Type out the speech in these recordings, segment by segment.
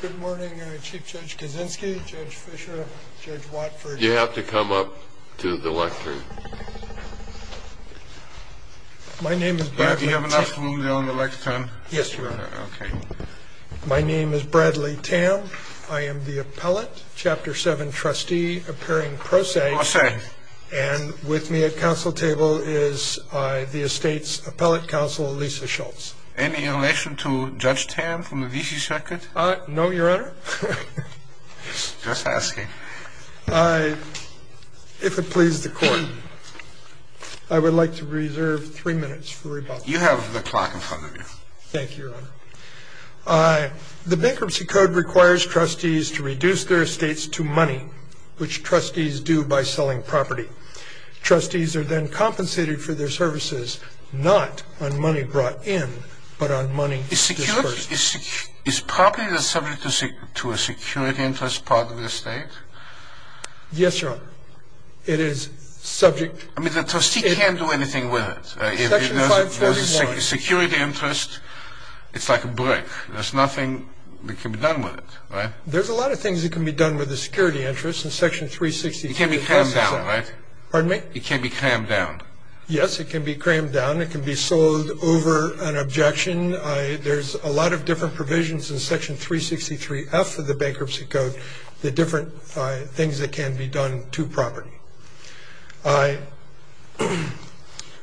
Good morning, Chief Judge Kaczynski, Judge Fischer, Judge Watford. You have to come up to the lectern. My name is Bradley Tam. Do you have enough room there on the lectern? Yes, Your Honor. Okay. My name is Bradley Tam. I am the appellate, Chapter 7 trustee, appearing pro se. Pro se. And with me at council table is the estate's appellate counsel, Lisa Schultz. Any relation to Judge Tam from the V.C. Circuit? No, Your Honor. Just asking. If it pleases the court, I would like to reserve three minutes for rebuttal. You have the clock in front of you. Thank you, Your Honor. The Bankruptcy Code requires trustees to reduce their estates to money, which trustees do by selling property. Trustees are then compensated for their services not on money brought in, but on money disbursed. Is property subject to a security interest part of the estate? Yes, Your Honor. It is subject. I mean, the trustee can't do anything with it. Section 541. If there's a security interest, it's like a brick. There's nothing that can be done with it, right? There's a lot of things that can be done with a security interest in Section 363. It can be crammed down, right? Pardon me? It can be crammed down. Yes, it can be crammed down. It can be sold over an objection. There's a lot of different provisions in Section 363F of the Bankruptcy Code, the different things that can be done to property.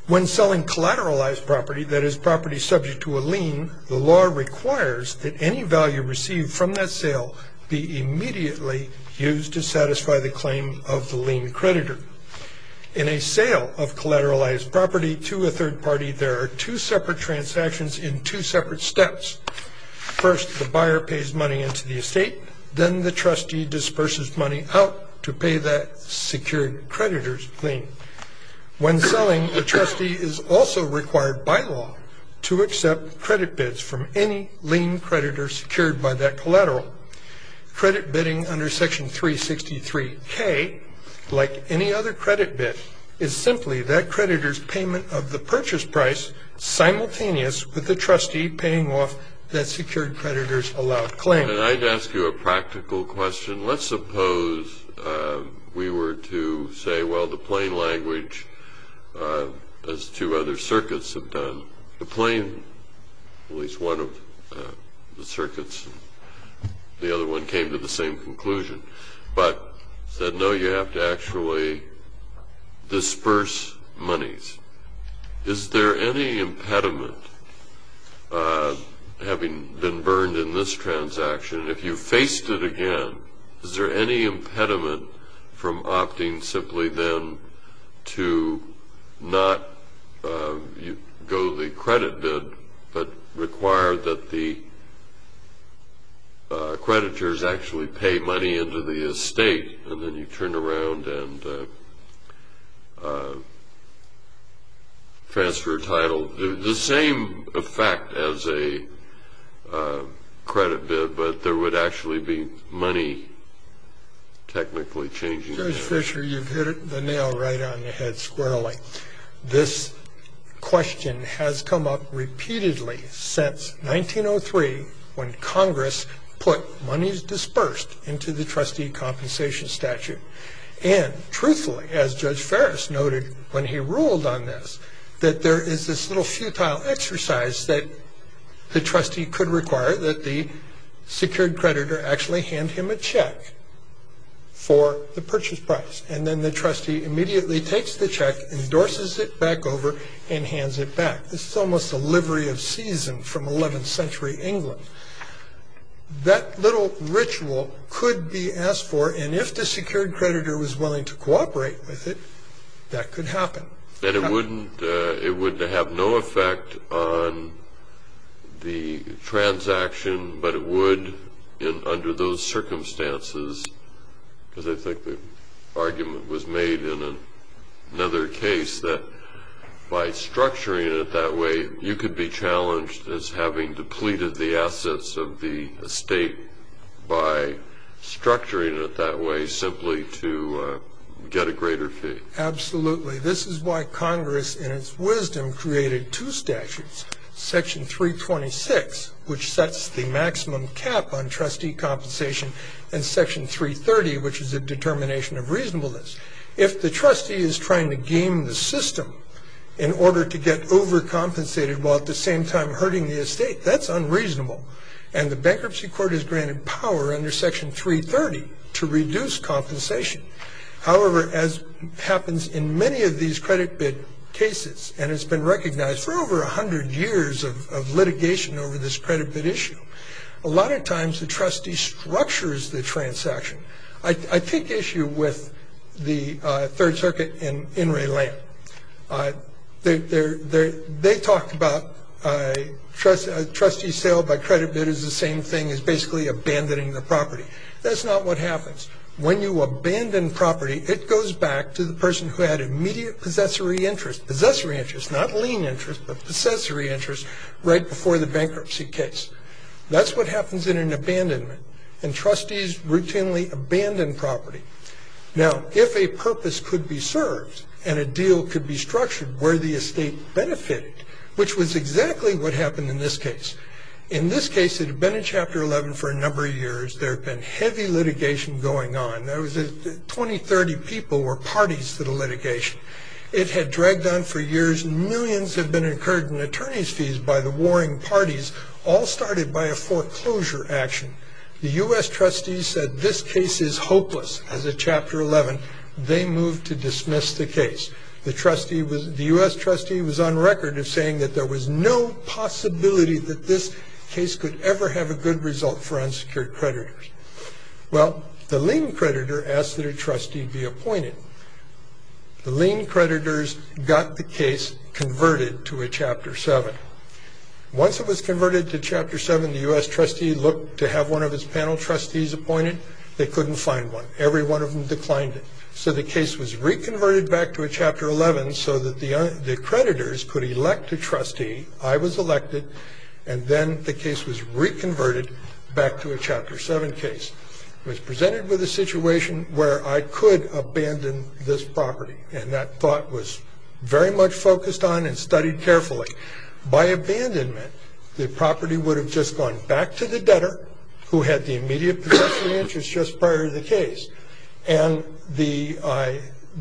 When selling collateralized property, that is property subject to a lien, the law requires that any value received from that sale be immediately used to satisfy the claim of the lien creditor. In a sale of collateralized property to a third party, there are two separate transactions in two separate steps. First, the buyer pays money into the estate. Then the trustee disperses money out to pay that secured creditor's lien. When selling, the trustee is also required by law to accept credit bids from any lien creditor secured by that collateral. Credit bidding under Section 363K, like any other credit bid, is simply that creditor's payment of the purchase price simultaneous with the trustee paying off that secured creditor's allowed claim. And I'd ask you a practical question. Let's suppose we were to say, well, the plain language, as two other circuits have done, the plain, at least one of the circuits, the other one came to the same conclusion, but said, no, you have to actually disperse monies. Is there any impediment, having been burned in this transaction, if you faced it again, is there any impediment from opting simply then to not go the credit bid, but require that the creditors actually pay money into the estate, and then you turn around and transfer a title? Well, the same effect as a credit bid, but there would actually be money technically changing. Judge Fischer, you've hit the nail right on the head squarely. This question has come up repeatedly since 1903, when Congress put monies dispersed into the trustee compensation statute. And truthfully, as Judge Ferris noted when he ruled on this, that there is this little futile exercise that the trustee could require, that the secured creditor actually hand him a check for the purchase price, and then the trustee immediately takes the check, endorses it back over, and hands it back. This is almost a livery of season from 11th century England. That little ritual could be asked for, and if the secured creditor was willing to cooperate with it, that could happen. And it wouldn't have no effect on the transaction, but it would under those circumstances, because I think the argument was made in another case that by structuring it that way, you could be challenged as having depleted the assets of the estate by structuring it that way simply to get a greater fee. Absolutely. This is why Congress, in its wisdom, created two statutes, Section 326, which sets the maximum cap on trustee compensation, and Section 330, which is a determination of reasonableness. If the trustee is trying to game the system in order to get overcompensated while at the same time hurting the estate, that's unreasonable, and the bankruptcy court has granted power under Section 330 to reduce compensation. However, as happens in many of these credit bid cases, and it's been recognized for over 100 years of litigation over this credit bid issue, a lot of times the trustee structures the transaction. I take issue with the Third Circuit in In re Land. They talked about trustee sale by credit bid is the same thing as basically abandoning the property. That's not what happens. When you abandon property, it goes back to the person who had immediate possessory interest, possessory interest, not lien interest, but possessory interest, right before the bankruptcy case. That's what happens in an abandonment, and trustees routinely abandon property. Now, if a purpose could be served and a deal could be structured where the estate benefited, which was exactly what happened in this case. In this case, it had been in Chapter 11 for a number of years. There had been heavy litigation going on. There was 20, 30 people or parties to the litigation. It had dragged on for years. Millions had been incurred in attorney's fees by the warring parties, all started by a foreclosure action. The U.S. trustee said this case is hopeless as of Chapter 11. They moved to dismiss the case. The U.S. trustee was on record of saying that there was no possibility that this case could ever have a good result for unsecured creditors. Well, the lien creditor asked that a trustee be appointed. The lien creditors got the case converted to a Chapter 7. Once it was converted to Chapter 7, the U.S. trustee looked to have one of his panel trustees appointed. They couldn't find one. Every one of them declined it. So the case was reconverted back to a Chapter 11 so that the creditors could elect a trustee. I was elected, and then the case was reconverted back to a Chapter 7 case. I was presented with a situation where I could abandon this property, and that thought was very much focused on and studied carefully. By abandonment, the property would have just gone back to the debtor, who had the immediate potential interest just prior to the case, and the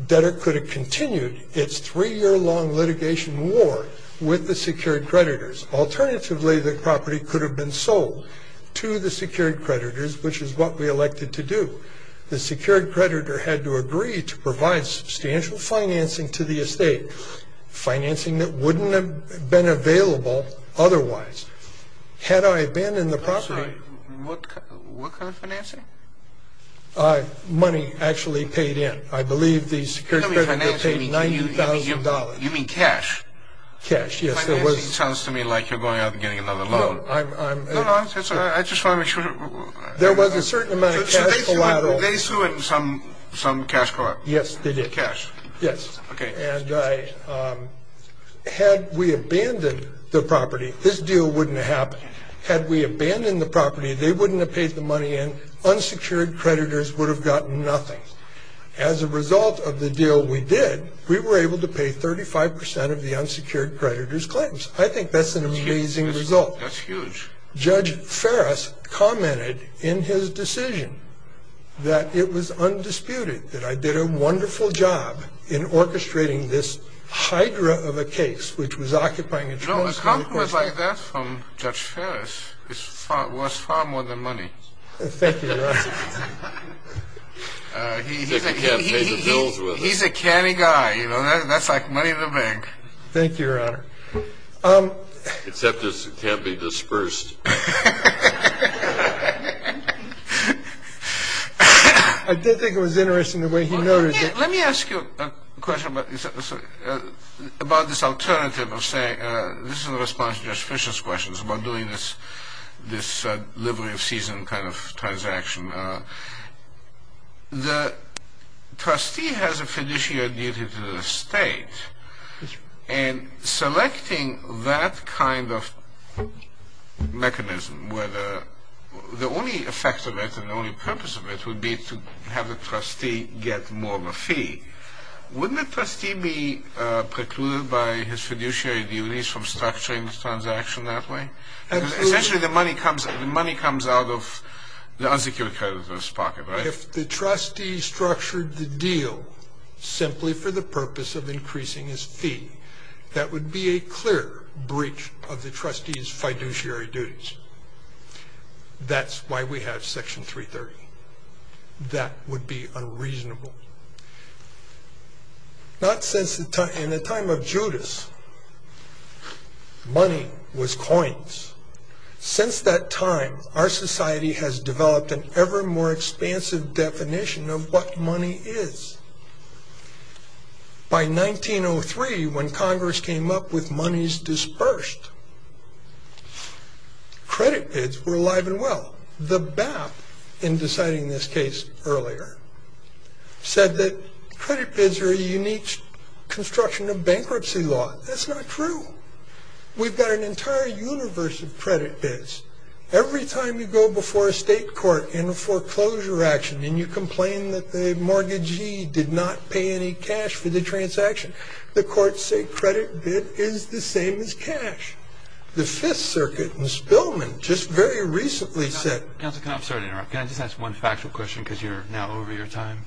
debtor could have continued its three-year-long litigation war with the secured creditors. Alternatively, the property could have been sold to the secured creditors, which is what we elected to do. The secured creditor had to agree to provide substantial financing to the estate, financing that wouldn't have been available otherwise. Had I abandoned the property... What kind of financing? Money actually paid in. I believe the secured creditor paid $90,000. You mean cash? Cash, yes. It sounds to me like you're going out and getting another loan. No, I'm... No, no, I just want to make sure... There was a certain amount of cash collateral. So they threw in some cash collateral? Yes, they did. Cash? Yes. Okay. And had we abandoned the property, this deal wouldn't have happened. Had we abandoned the property, they wouldn't have paid the money in. Unsecured creditors would have gotten nothing. As a result of the deal we did, we were able to pay 35% of the unsecured creditor's claims. I think that's an amazing result. That's huge. Judge Ferris commented in his decision that it was undisputed that I did a wonderful job in orchestrating this hydra of a case which was occupying... No, a compliment like that from Judge Ferris was far more than money. Thank you, Your Honor. He's a canny guy, you know. That's like money in the bank. Thank you, Your Honor. Except it can't be dispersed. I did think it was interesting the way he noted it. Let me ask you a question about this alternative of saying... This is in response to Judge Fischer's questions about doing this livery of season kind of transaction. The trustee has a fiduciary duty to the state, and selecting that kind of mechanism where the only effect of it and the only purpose of it would be to have the trustee get more of a fee. Wouldn't the trustee be precluded by his fiduciary duties from structuring the transaction that way? Essentially, the money comes out of the unsecured creditor's pocket, right? If the trustee structured the deal simply for the purpose of increasing his fee, that would be a clear breach of the trustee's fiduciary duties. That's why we have Section 330. That would be unreasonable. Not since the time of Judas. Money was coins. Since that time, our society has developed an ever more expansive definition of what money is. By 1903, when Congress came up with monies dispersed, credit bids were alive and well. The BAP, in deciding this case earlier, said that credit bids are a unique construction of bankruptcy law. That's not true. We've got an entire universe of credit bids. Every time you go before a state court in a foreclosure action, and you complain that the mortgagee did not pay any cash for the transaction, the courts say credit bid is the same as cash. The Fifth Circuit in Spillman just very recently said... Counsel, can I just ask one factual question because you're now over your time?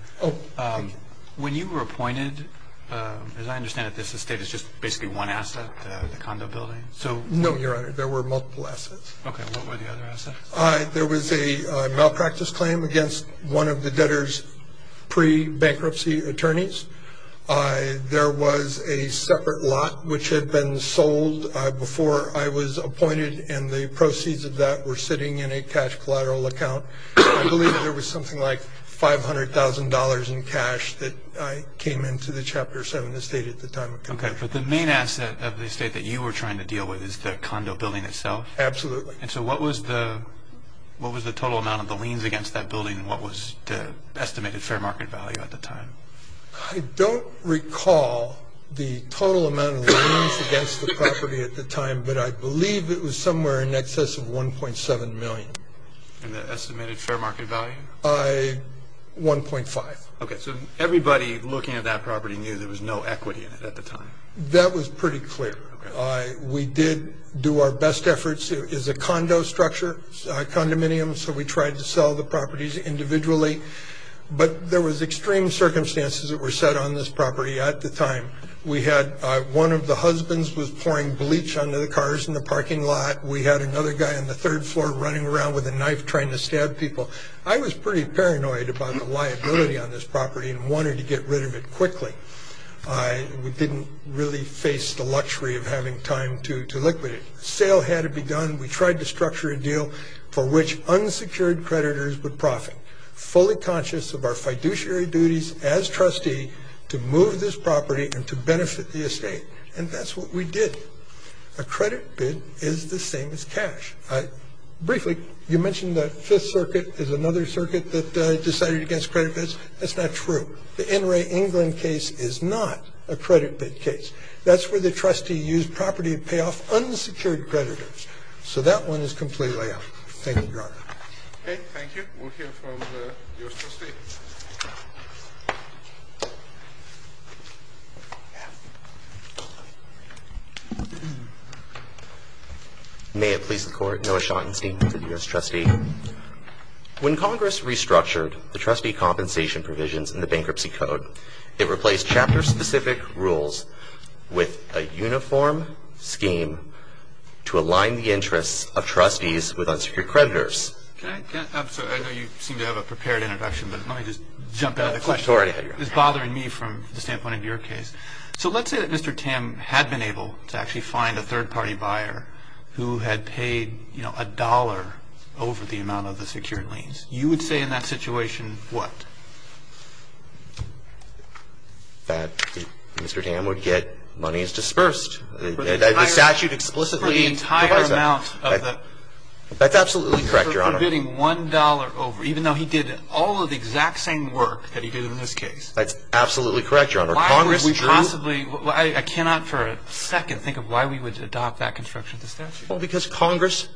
When you were appointed, as I understand it, this estate is just basically one asset, the condo building? No, Your Honor, there were multiple assets. Okay, what were the other assets? There was a malpractice claim against one of the debtors' pre-bankruptcy attorneys. There was a separate lot which had been sold before I was appointed, and the proceeds of that were sitting in a cash collateral account. I believe there was something like $500,000 in cash that came into the Chapter 7 estate at the time. Okay, but the main asset of the estate that you were trying to deal with is the condo building itself? Absolutely. And so what was the total amount of the liens against that building and what was the estimated fair market value at the time? I don't recall the total amount of liens against the property at the time, but I believe it was somewhere in excess of $1.7 million. And the estimated fair market value? $1.5 million. Okay, so everybody looking at that property knew there was no equity in it at the time? That was pretty clear. We did do our best efforts. It is a condo structure, a condominium, so we tried to sell the properties individually, but there was extreme circumstances that were set on this property at the time. We had one of the husbands was pouring bleach onto the cars in the parking lot. We had another guy on the third floor running around with a knife trying to stab people. I was pretty paranoid about the liability on this property and wanted to get rid of it quickly. We didn't really face the luxury of having time to liquidate it. The sale had to be done. We tried to structure a deal for which unsecured creditors would profit, fully conscious of our fiduciary duties as trustee to move this property and to benefit the estate, and that's what we did. A credit bid is the same as cash. Briefly, you mentioned that Fifth Circuit is another circuit that decided against credit bids. That's not true. The NRA England case is not a credit bid case. That's where the trustee used property to pay off unsecured creditors. So that one is completely out. Thank you, Your Honor. Okay, thank you. We'll hear from the U.S. trustee. May it please the Court, Noah Schottenstein for the U.S. trustee. When Congress restructured the trustee compensation provisions in the Bankruptcy Code, it replaced chapter-specific rules with a uniform scheme to align the interests of trustees with unsecured creditors. I'm sorry, I know you seem to have a prepared introduction, but let me just jump in on the question. Go right ahead, Your Honor. It's bothering me from the standpoint of your case. So let's say that Mr. Tam had been able to actually find a third-party buyer who had paid, you know, a dollar over the amount of the secured liens. You would say in that situation what? That Mr. Tam would get money as disbursed. The statute explicitly provides that. For the entire amount of the? That's absolutely correct, Your Honor. For bidding $1 over, even though he did all of the exact same work that he did in this case. That's absolutely correct, Your Honor. Why would we possibly? I cannot for a second think of why we would adopt that construction of the statute. Well, because Congress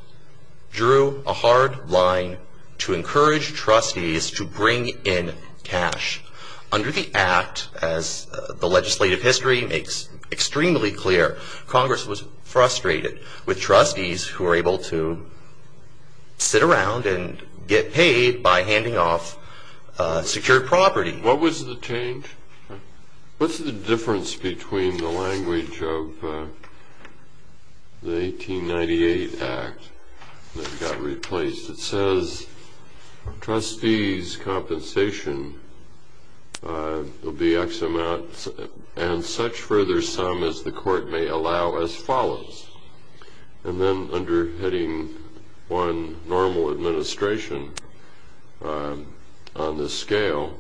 drew a hard line to encourage trustees to bring in cash. Under the Act, as the legislative history makes extremely clear, Congress was frustrated with trustees who were able to sit around and get paid by handing off secured property. What was the change? What's the difference between the language of the 1898 Act that got replaced? It says trustees' compensation will be X amount and such further sum as the court may allow as follows. And then under hitting one normal administration on this scale,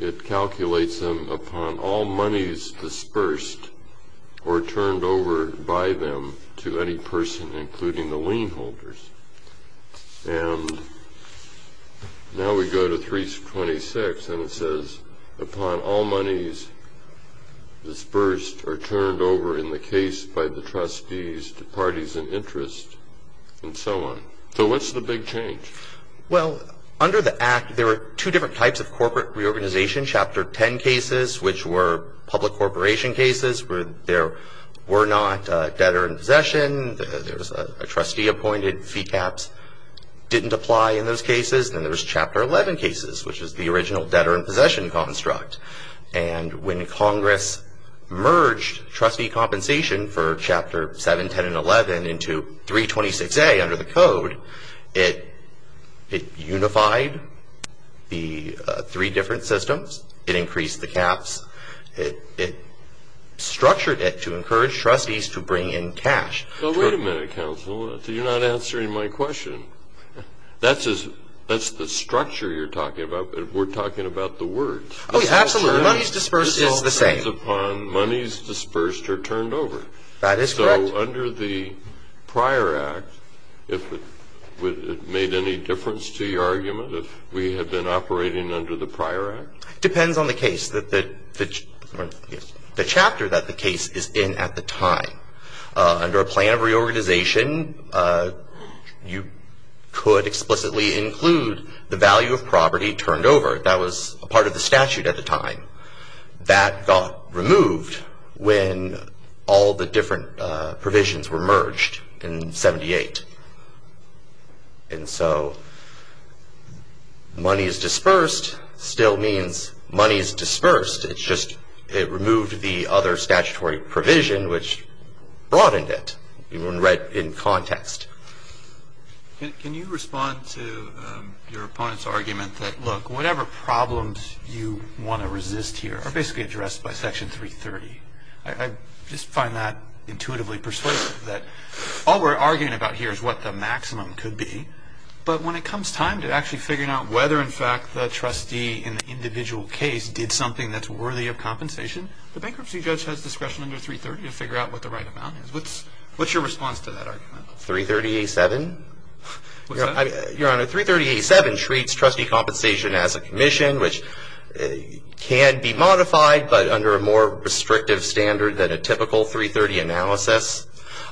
it calculates them upon all monies disbursed or turned over by them to any person, including the lien holders. And now we go to 326 and it says upon all monies disbursed or turned over in the case by the trustees to parties in interest and so on. So what's the big change? Well, under the Act, there are two different types of corporate reorganization. Chapter 10 cases, which were public corporation cases where there were not debtor in possession. There was a trustee appointed. Fee caps didn't apply in those cases. Then there was Chapter 11 cases, which is the original debtor in possession construct. And when Congress merged trustee compensation for Chapter 7, 10, and 11 into 326A under the code, it unified the three different systems. It increased the caps. It structured it to encourage trustees to bring in cash. Well, wait a minute, counsel. You're not answering my question. That's the structure you're talking about. We're talking about the words. Oh, yeah, absolutely. Monies disbursed is the same. It all depends upon monies disbursed or turned over. That is correct. So under the prior Act, it made any difference to your argument if we had been operating under the prior Act? It depends on the case, the chapter that the case is in at the time. Under a plan of reorganization, you could explicitly include the value of property turned over. That was a part of the statute at the time. That got removed when all the different provisions were merged in 78. And so monies disbursed still means monies disbursed. It's just it removed the other statutory provision, which broadened it in context. Can you respond to your opponent's argument that, look, whatever problems you want to resist here are basically addressed by Section 330? I just find that intuitively persuasive, that all we're arguing about here is what the maximum could be. But when it comes time to actually figuring out whether, in fact, the trustee in the individual case did something that's worthy of compensation, the bankruptcy judge has discretion under 330 to figure out what the right amount is. What's your response to that argument? 330A7? Your Honor, 330A7 treats trustee compensation as a commission which can be modified, but under a more restrictive standard than a typical 330 analysis.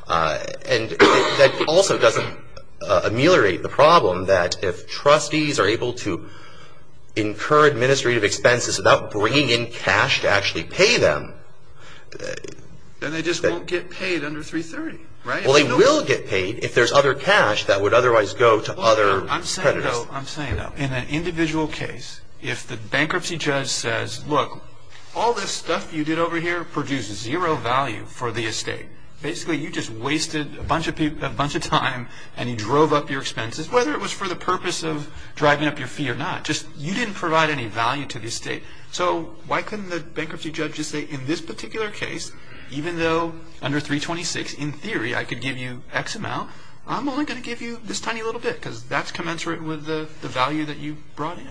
And that also doesn't ameliorate the problem that if trustees are able to incur administrative expenses without bringing in cash to actually pay them. Then they just won't get paid under 330, right? Well, they will get paid if there's other cash that would otherwise go to other creditors. I'm saying, though, in an individual case, if the bankruptcy judge says, look, all this stuff you did over here produces zero value for the estate. Basically, you just wasted a bunch of time and you drove up your expenses, whether it was for the purpose of driving up your fee or not. You didn't provide any value to the estate. So why couldn't the bankruptcy judge just say, in this particular case, even though under 326, in theory I could give you X amount, I'm only going to give you this tiny little bit because that's commensurate with the value that you brought in?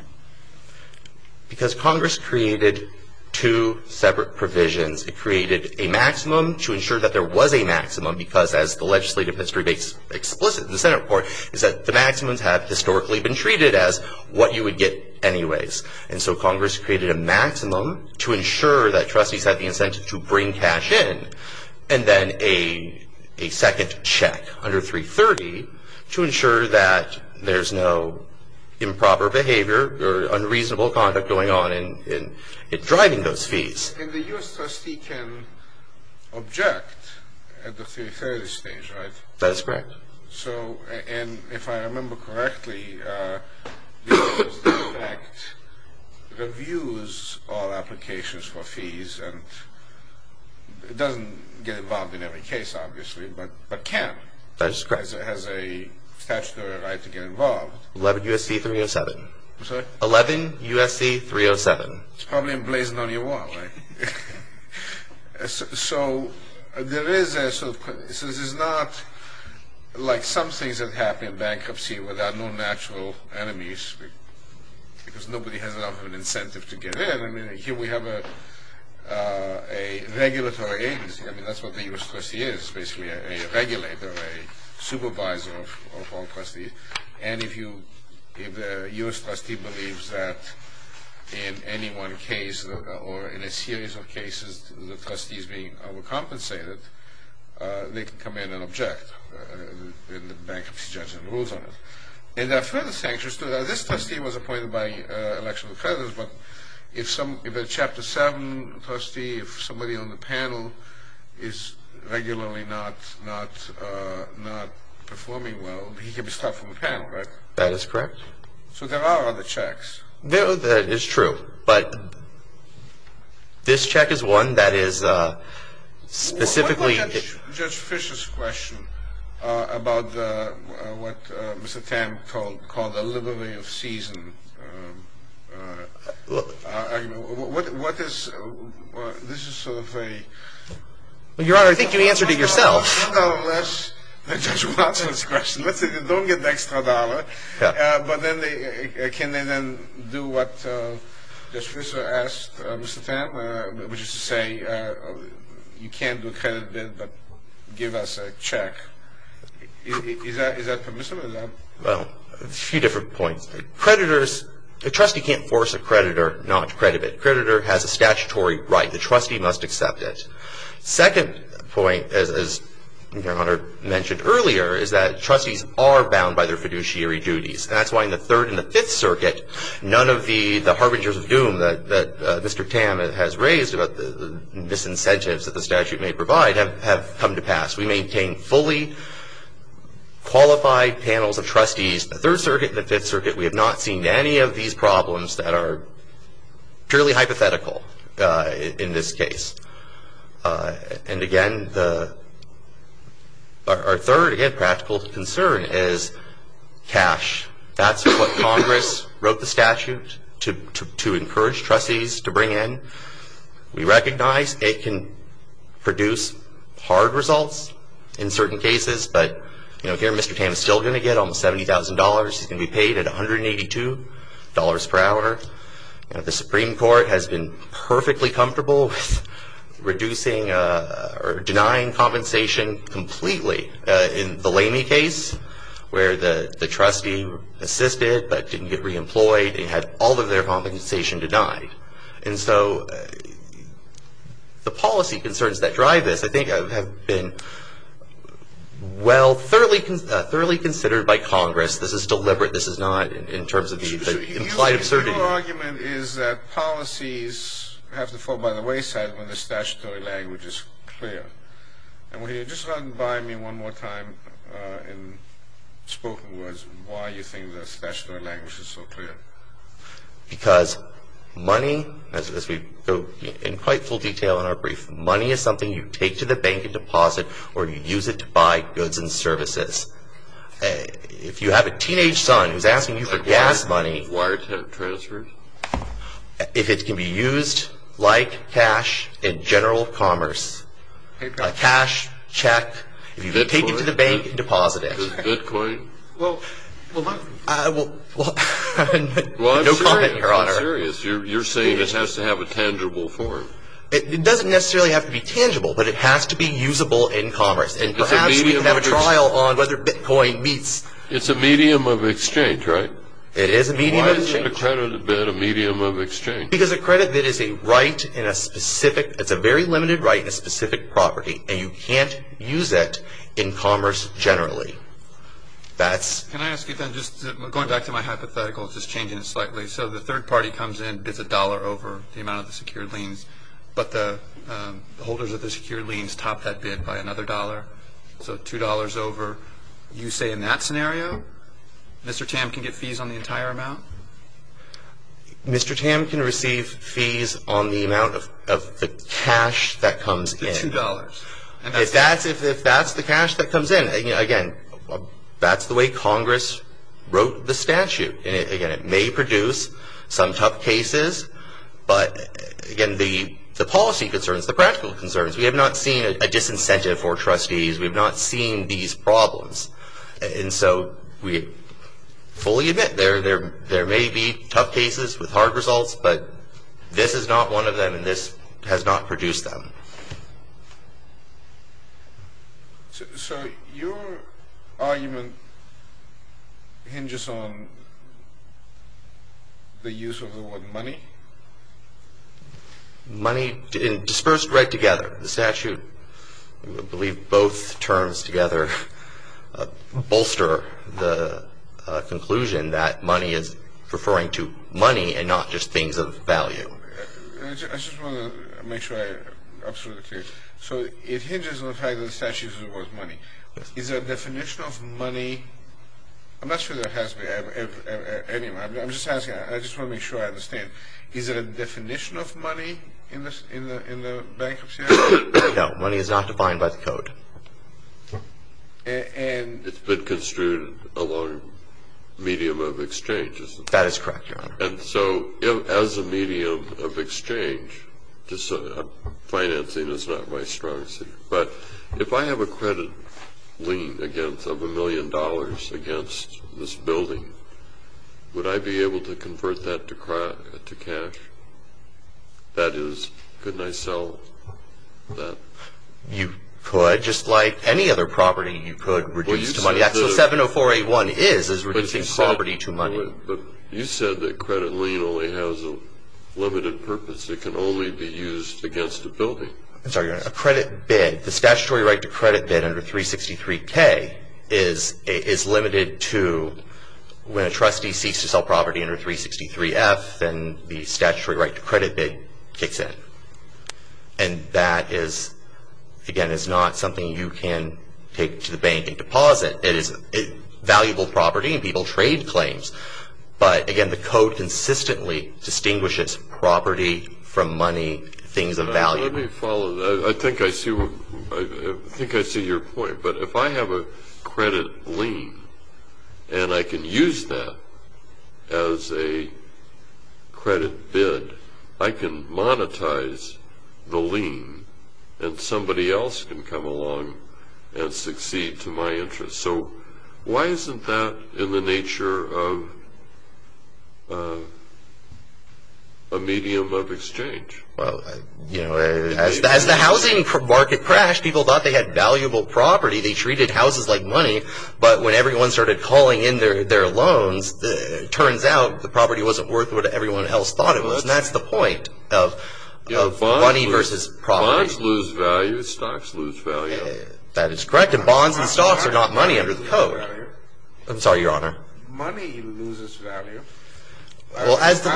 Because Congress created two separate provisions. It created a maximum to ensure that there was a maximum because, as the legislative history makes explicit in the Senate report, is that the maximums have historically been treated as what you would get anyways. And so Congress created a maximum to ensure that trustees had the incentive to bring cash in and then a second check under 330 to ensure that there's no improper behavior or unreasonable conduct going on in driving those fees. And the U.S. trustee can object at the 330 stage, right? That is correct. So, and if I remember correctly, this act reviews all applications for fees and doesn't get involved in every case, obviously, but can. That is correct. It has a statutory right to get involved. 11 U.S.C. 307. I'm sorry? 11 U.S.C. 307. It's probably emblazoned on your wall, right? So this is not like some things that happen in bankruptcy without no natural enemies because nobody has enough of an incentive to get in. I mean, here we have a regulatory agency. I mean, that's what the U.S. trustee is, basically, a regulator, a supervisor of all trustees. And if the U.S. trustee believes that in any one case or in a series of cases the trustee is being overcompensated, they can come in and object in the bankruptcy judgment rules on it. And there are further sanctions, too. Now, this trustee was appointed by election of creditors, but if a Chapter 7 trustee, if somebody on the panel is regularly not performing well, he can be stopped from the panel, right? That is correct. So there are other checks. That is true, but this check is one that is specifically... What about Judge Fischer's question about what Mr. Tam called the livery of season? What is, this is sort of a... Your Honor, I think you answered it yourself. One dollar less than Judge Watson's question. Don't get the extra dollar. But can they then do what Judge Fischer asked Mr. Tam, which is to say you can't do a credit bid but give us a check? Is that permissible? Well, a few different points. Creditors, a trustee can't force a creditor not to credit it. A creditor has a statutory right. The trustee must accept it. Second point, as Your Honor mentioned earlier, is that trustees are bound by their fiduciary duties, and that's why in the Third and the Fifth Circuit, none of the harbingers of doom that Mr. Tam has raised about the disincentives that the statute may provide have come to pass. We maintain fully qualified panels of trustees. The Third Circuit and the Fifth Circuit, we have not seen any of these problems that are purely hypothetical in this case. And again, our third, again, practical concern is cash. That's what Congress wrote the statute to encourage trustees to bring in. We recognize it can produce hard results in certain cases, but here Mr. Tam is still going to get almost $70,000. He's going to be paid at $182 per hour. The Supreme Court has been perfectly comfortable with reducing or denying compensation completely. In the Lamey case where the trustee assisted but didn't get reemployed, they had all of their compensation denied. And so the policy concerns that drive this, I think, have been well thoroughly considered by Congress. This is deliberate. This is not in terms of the implied absurdity. Your argument is that policies have to fall by the wayside when the statutory language is clear. And would you just run by me one more time in spoken words why you think the statutory language is so clear? Because money, as we go in quite full detail in our brief, money is something you take to the bank and deposit or you use it to buy goods and services. If you have a teenage son who's asking you for gas money, if it can be used like cash in general commerce, a cash check, if you take it to the bank and deposit it. No comment, Your Honor. You're saying it has to have a tangible form. It doesn't necessarily have to be tangible, but it has to be usable in commerce. And perhaps we can have a trial on whether Bitcoin meets. It's a medium of exchange, right? It is a medium of exchange. Why is a credit bid a medium of exchange? Because a credit bid is a right in a specific, it's a very limited right in a specific property, and you can't use it in commerce generally. Can I ask you then, just going back to my hypothetical, just changing it slightly. So the third party comes in, bids a dollar over the amount of the secured liens, but the holders of the secured liens top that bid by another dollar, so $2 over. You say in that scenario Mr. Tam can get fees on the entire amount? Mr. Tam can receive fees on the amount of the cash that comes in. The $2. If that's the cash that comes in, again, that's the way Congress wrote the statute. Again, it may produce some tough cases, but again, the policy concerns, the practical concerns, we have not seen a disincentive for trustees, we have not seen these problems. And so we fully admit there may be tough cases with hard results, but this is not one of them, and this has not produced them. So your argument hinges on the use of the word money? Money, dispersed right together. The statute, I believe both terms together, bolster the conclusion that money is referring to money and not just things of value. I just want to make sure I'm absolutely clear. So it hinges on the fact that the statute uses the word money. Is there a definition of money? I'm not sure there has been. Anyway, I'm just asking. I just want to make sure I understand. Is there a definition of money in the bankruptcy act? No, money is not defined by the code. That is correct, Your Honor. And so as a medium of exchange, financing is not my strong suit, but if I have a credit lien of a million dollars against this building, would I be able to convert that to cash? That is, couldn't I sell that? You could, just like any other property you could reduce to money. That's what 70481 is, is reducing property to money. But you said that credit lien only has a limited purpose. It can only be used against a building. I'm sorry, Your Honor. A credit bid, the statutory right to credit bid under 363K is limited to when a trustee seeks to sell property under 363F, then the statutory right to credit bid kicks in. And that is, again, is not something you can take to the bank and deposit. It is valuable property and people trade claims. But, again, the code consistently distinguishes property from money, things of value. Let me follow that. I think I see your point. But if I have a credit lien and I can use that as a credit bid, I can monetize the lien and somebody else can come along and succeed to my interest. So why isn't that in the nature of a medium of exchange? Well, you know, as the housing market crashed, people thought they had valuable property. They treated houses like money. But when everyone started calling in their loans, it turns out the property wasn't worth what everyone else thought it was. And that's the point of money versus property. Stocks lose value. Stocks lose value. That is correct. And bonds and stocks are not money under the code. I'm sorry, Your Honor. Money loses value. Well, as the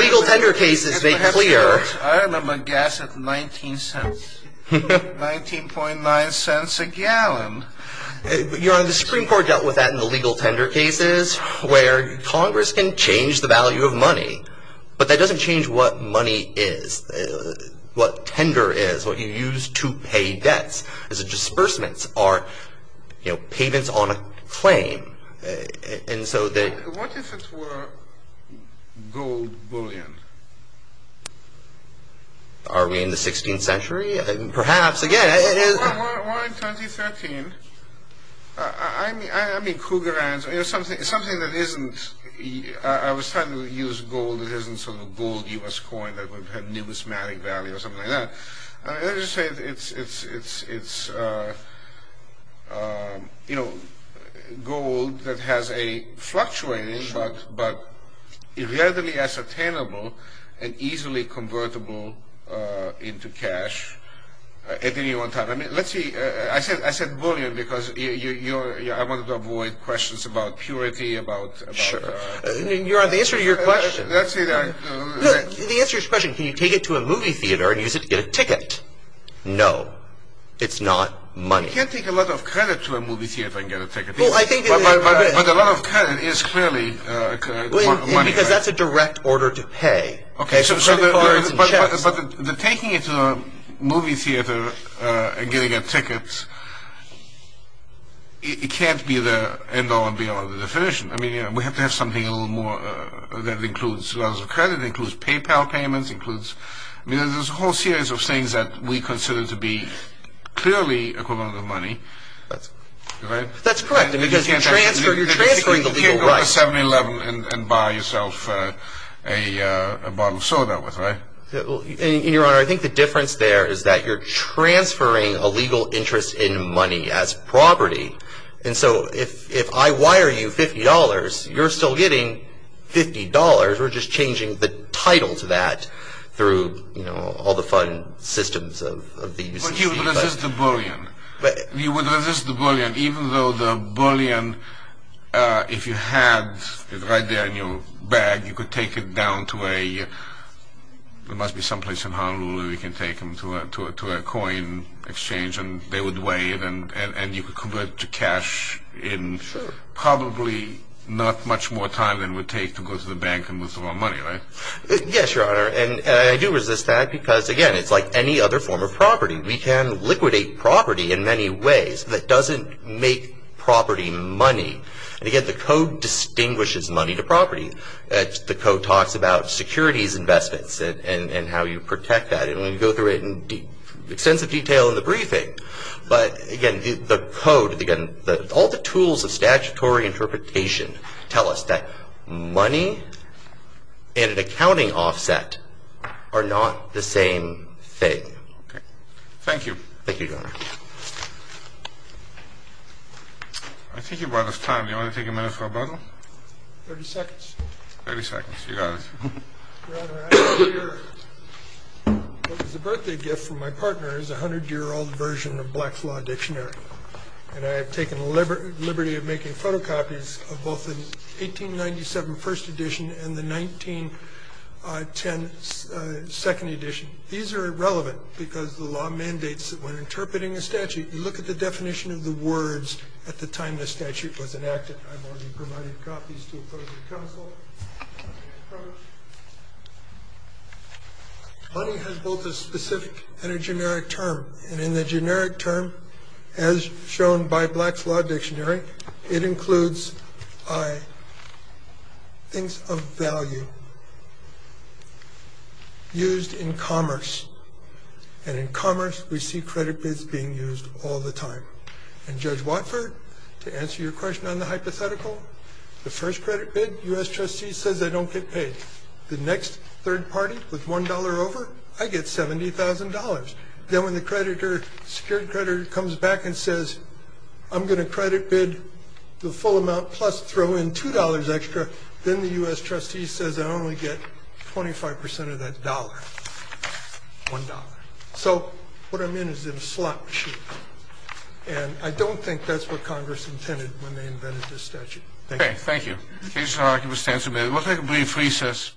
legal tender cases make clear. I remember gas at 19 cents, 19.9 cents a gallon. Your Honor, the Supreme Court dealt with that in the legal tender cases where Congress can change the value of money, but that doesn't change what money is, what tender is, what you use to pay debts as a disbursement or payments on a claim. What if it were gold bullion? Are we in the 16th century? Perhaps. Why in 2013? I mean, something that isn't – I was trying to use gold. It isn't sort of a gold U.S. coin that would have numismatic value or something like that. Let's just say it's, you know, gold that has a fluctuating but readily ascertainable and easily convertible into cash at any one time. Let's see. I said bullion because I wanted to avoid questions about purity. Sure. Your Honor, the answer to your question. The answer to your question, can you take it to a movie theater and use it to get a ticket? No. It's not money. You can't take a lot of credit to a movie theater and get a ticket. But a lot of credit is clearly money. Because that's a direct order to pay. But taking it to a movie theater and getting a ticket, it can't be the end all and be all of the definition. I mean, we have to have something a little more that includes credit, includes PayPal payments, includes – I mean, there's a whole series of things that we consider to be clearly equivalent of money. That's correct. Because you're transferring the legal rights. You go to 7-Eleven and buy yourself a bottle of soda, right? Your Honor, I think the difference there is that you're transferring a legal interest in money as property. And so if I wire you $50, you're still getting $50. We're just changing the title to that through all the fun systems of the UCC. You would resist the bullion. You would resist the bullion even though the bullion, if you had it right there in your bag, you could take it down to a – there must be some place in Honolulu where we can take them to a coin exchange and they would weigh it and you could convert it to cash in probably not much more time than it would take to go to the bank and withdraw money, right? Yes, Your Honor. And I do resist that because, again, it's like any other form of property. We can liquidate property in many ways. That doesn't make property money. Again, the Code distinguishes money to property. The Code talks about securities investments and how you protect that. And we're going to go through it in extensive detail in the briefing. But, again, the Code, again, all the tools of statutory interpretation tell us that money and an accounting offset are not the same thing. Okay. Thank you, Your Honor. I think you've run out of time. Do you want to take a minute for rebuttal? 30 seconds. 30 seconds. You got it. Your Honor, I have here what was a birthday gift from my partner. It's a 100-year-old version of Black's Law Dictionary. And I have taken the liberty of making photocopies of both the 1897 First Edition and the 1910 Second Edition. These are irrelevant because the law mandates that when interpreting a statute, you look at the definition of the words at the time the statute was enacted. With that, I've already provided copies to appropriate counsel. Money has both a specific and a generic term. And in the generic term, as shown by Black's Law Dictionary, it includes things of value used in commerce. And in commerce, we see credit bids being used all the time. And Judge Watford, to answer your question on the hypothetical, the first credit bid, U.S. trustee says I don't get paid. The next third party with $1 over, I get $70,000. Then when the creditor, secured creditor, comes back and says, I'm going to credit bid the full amount plus throw in $2 extra, then the U.S. trustee says I only get 25% of that dollar, $1. So what I'm in is in a slot machine. And I don't think that's what Congress intended when they invented this statute. Thank you. Kennedy. Thank you. The case is argued for stance amendment. We'll take a brief recess.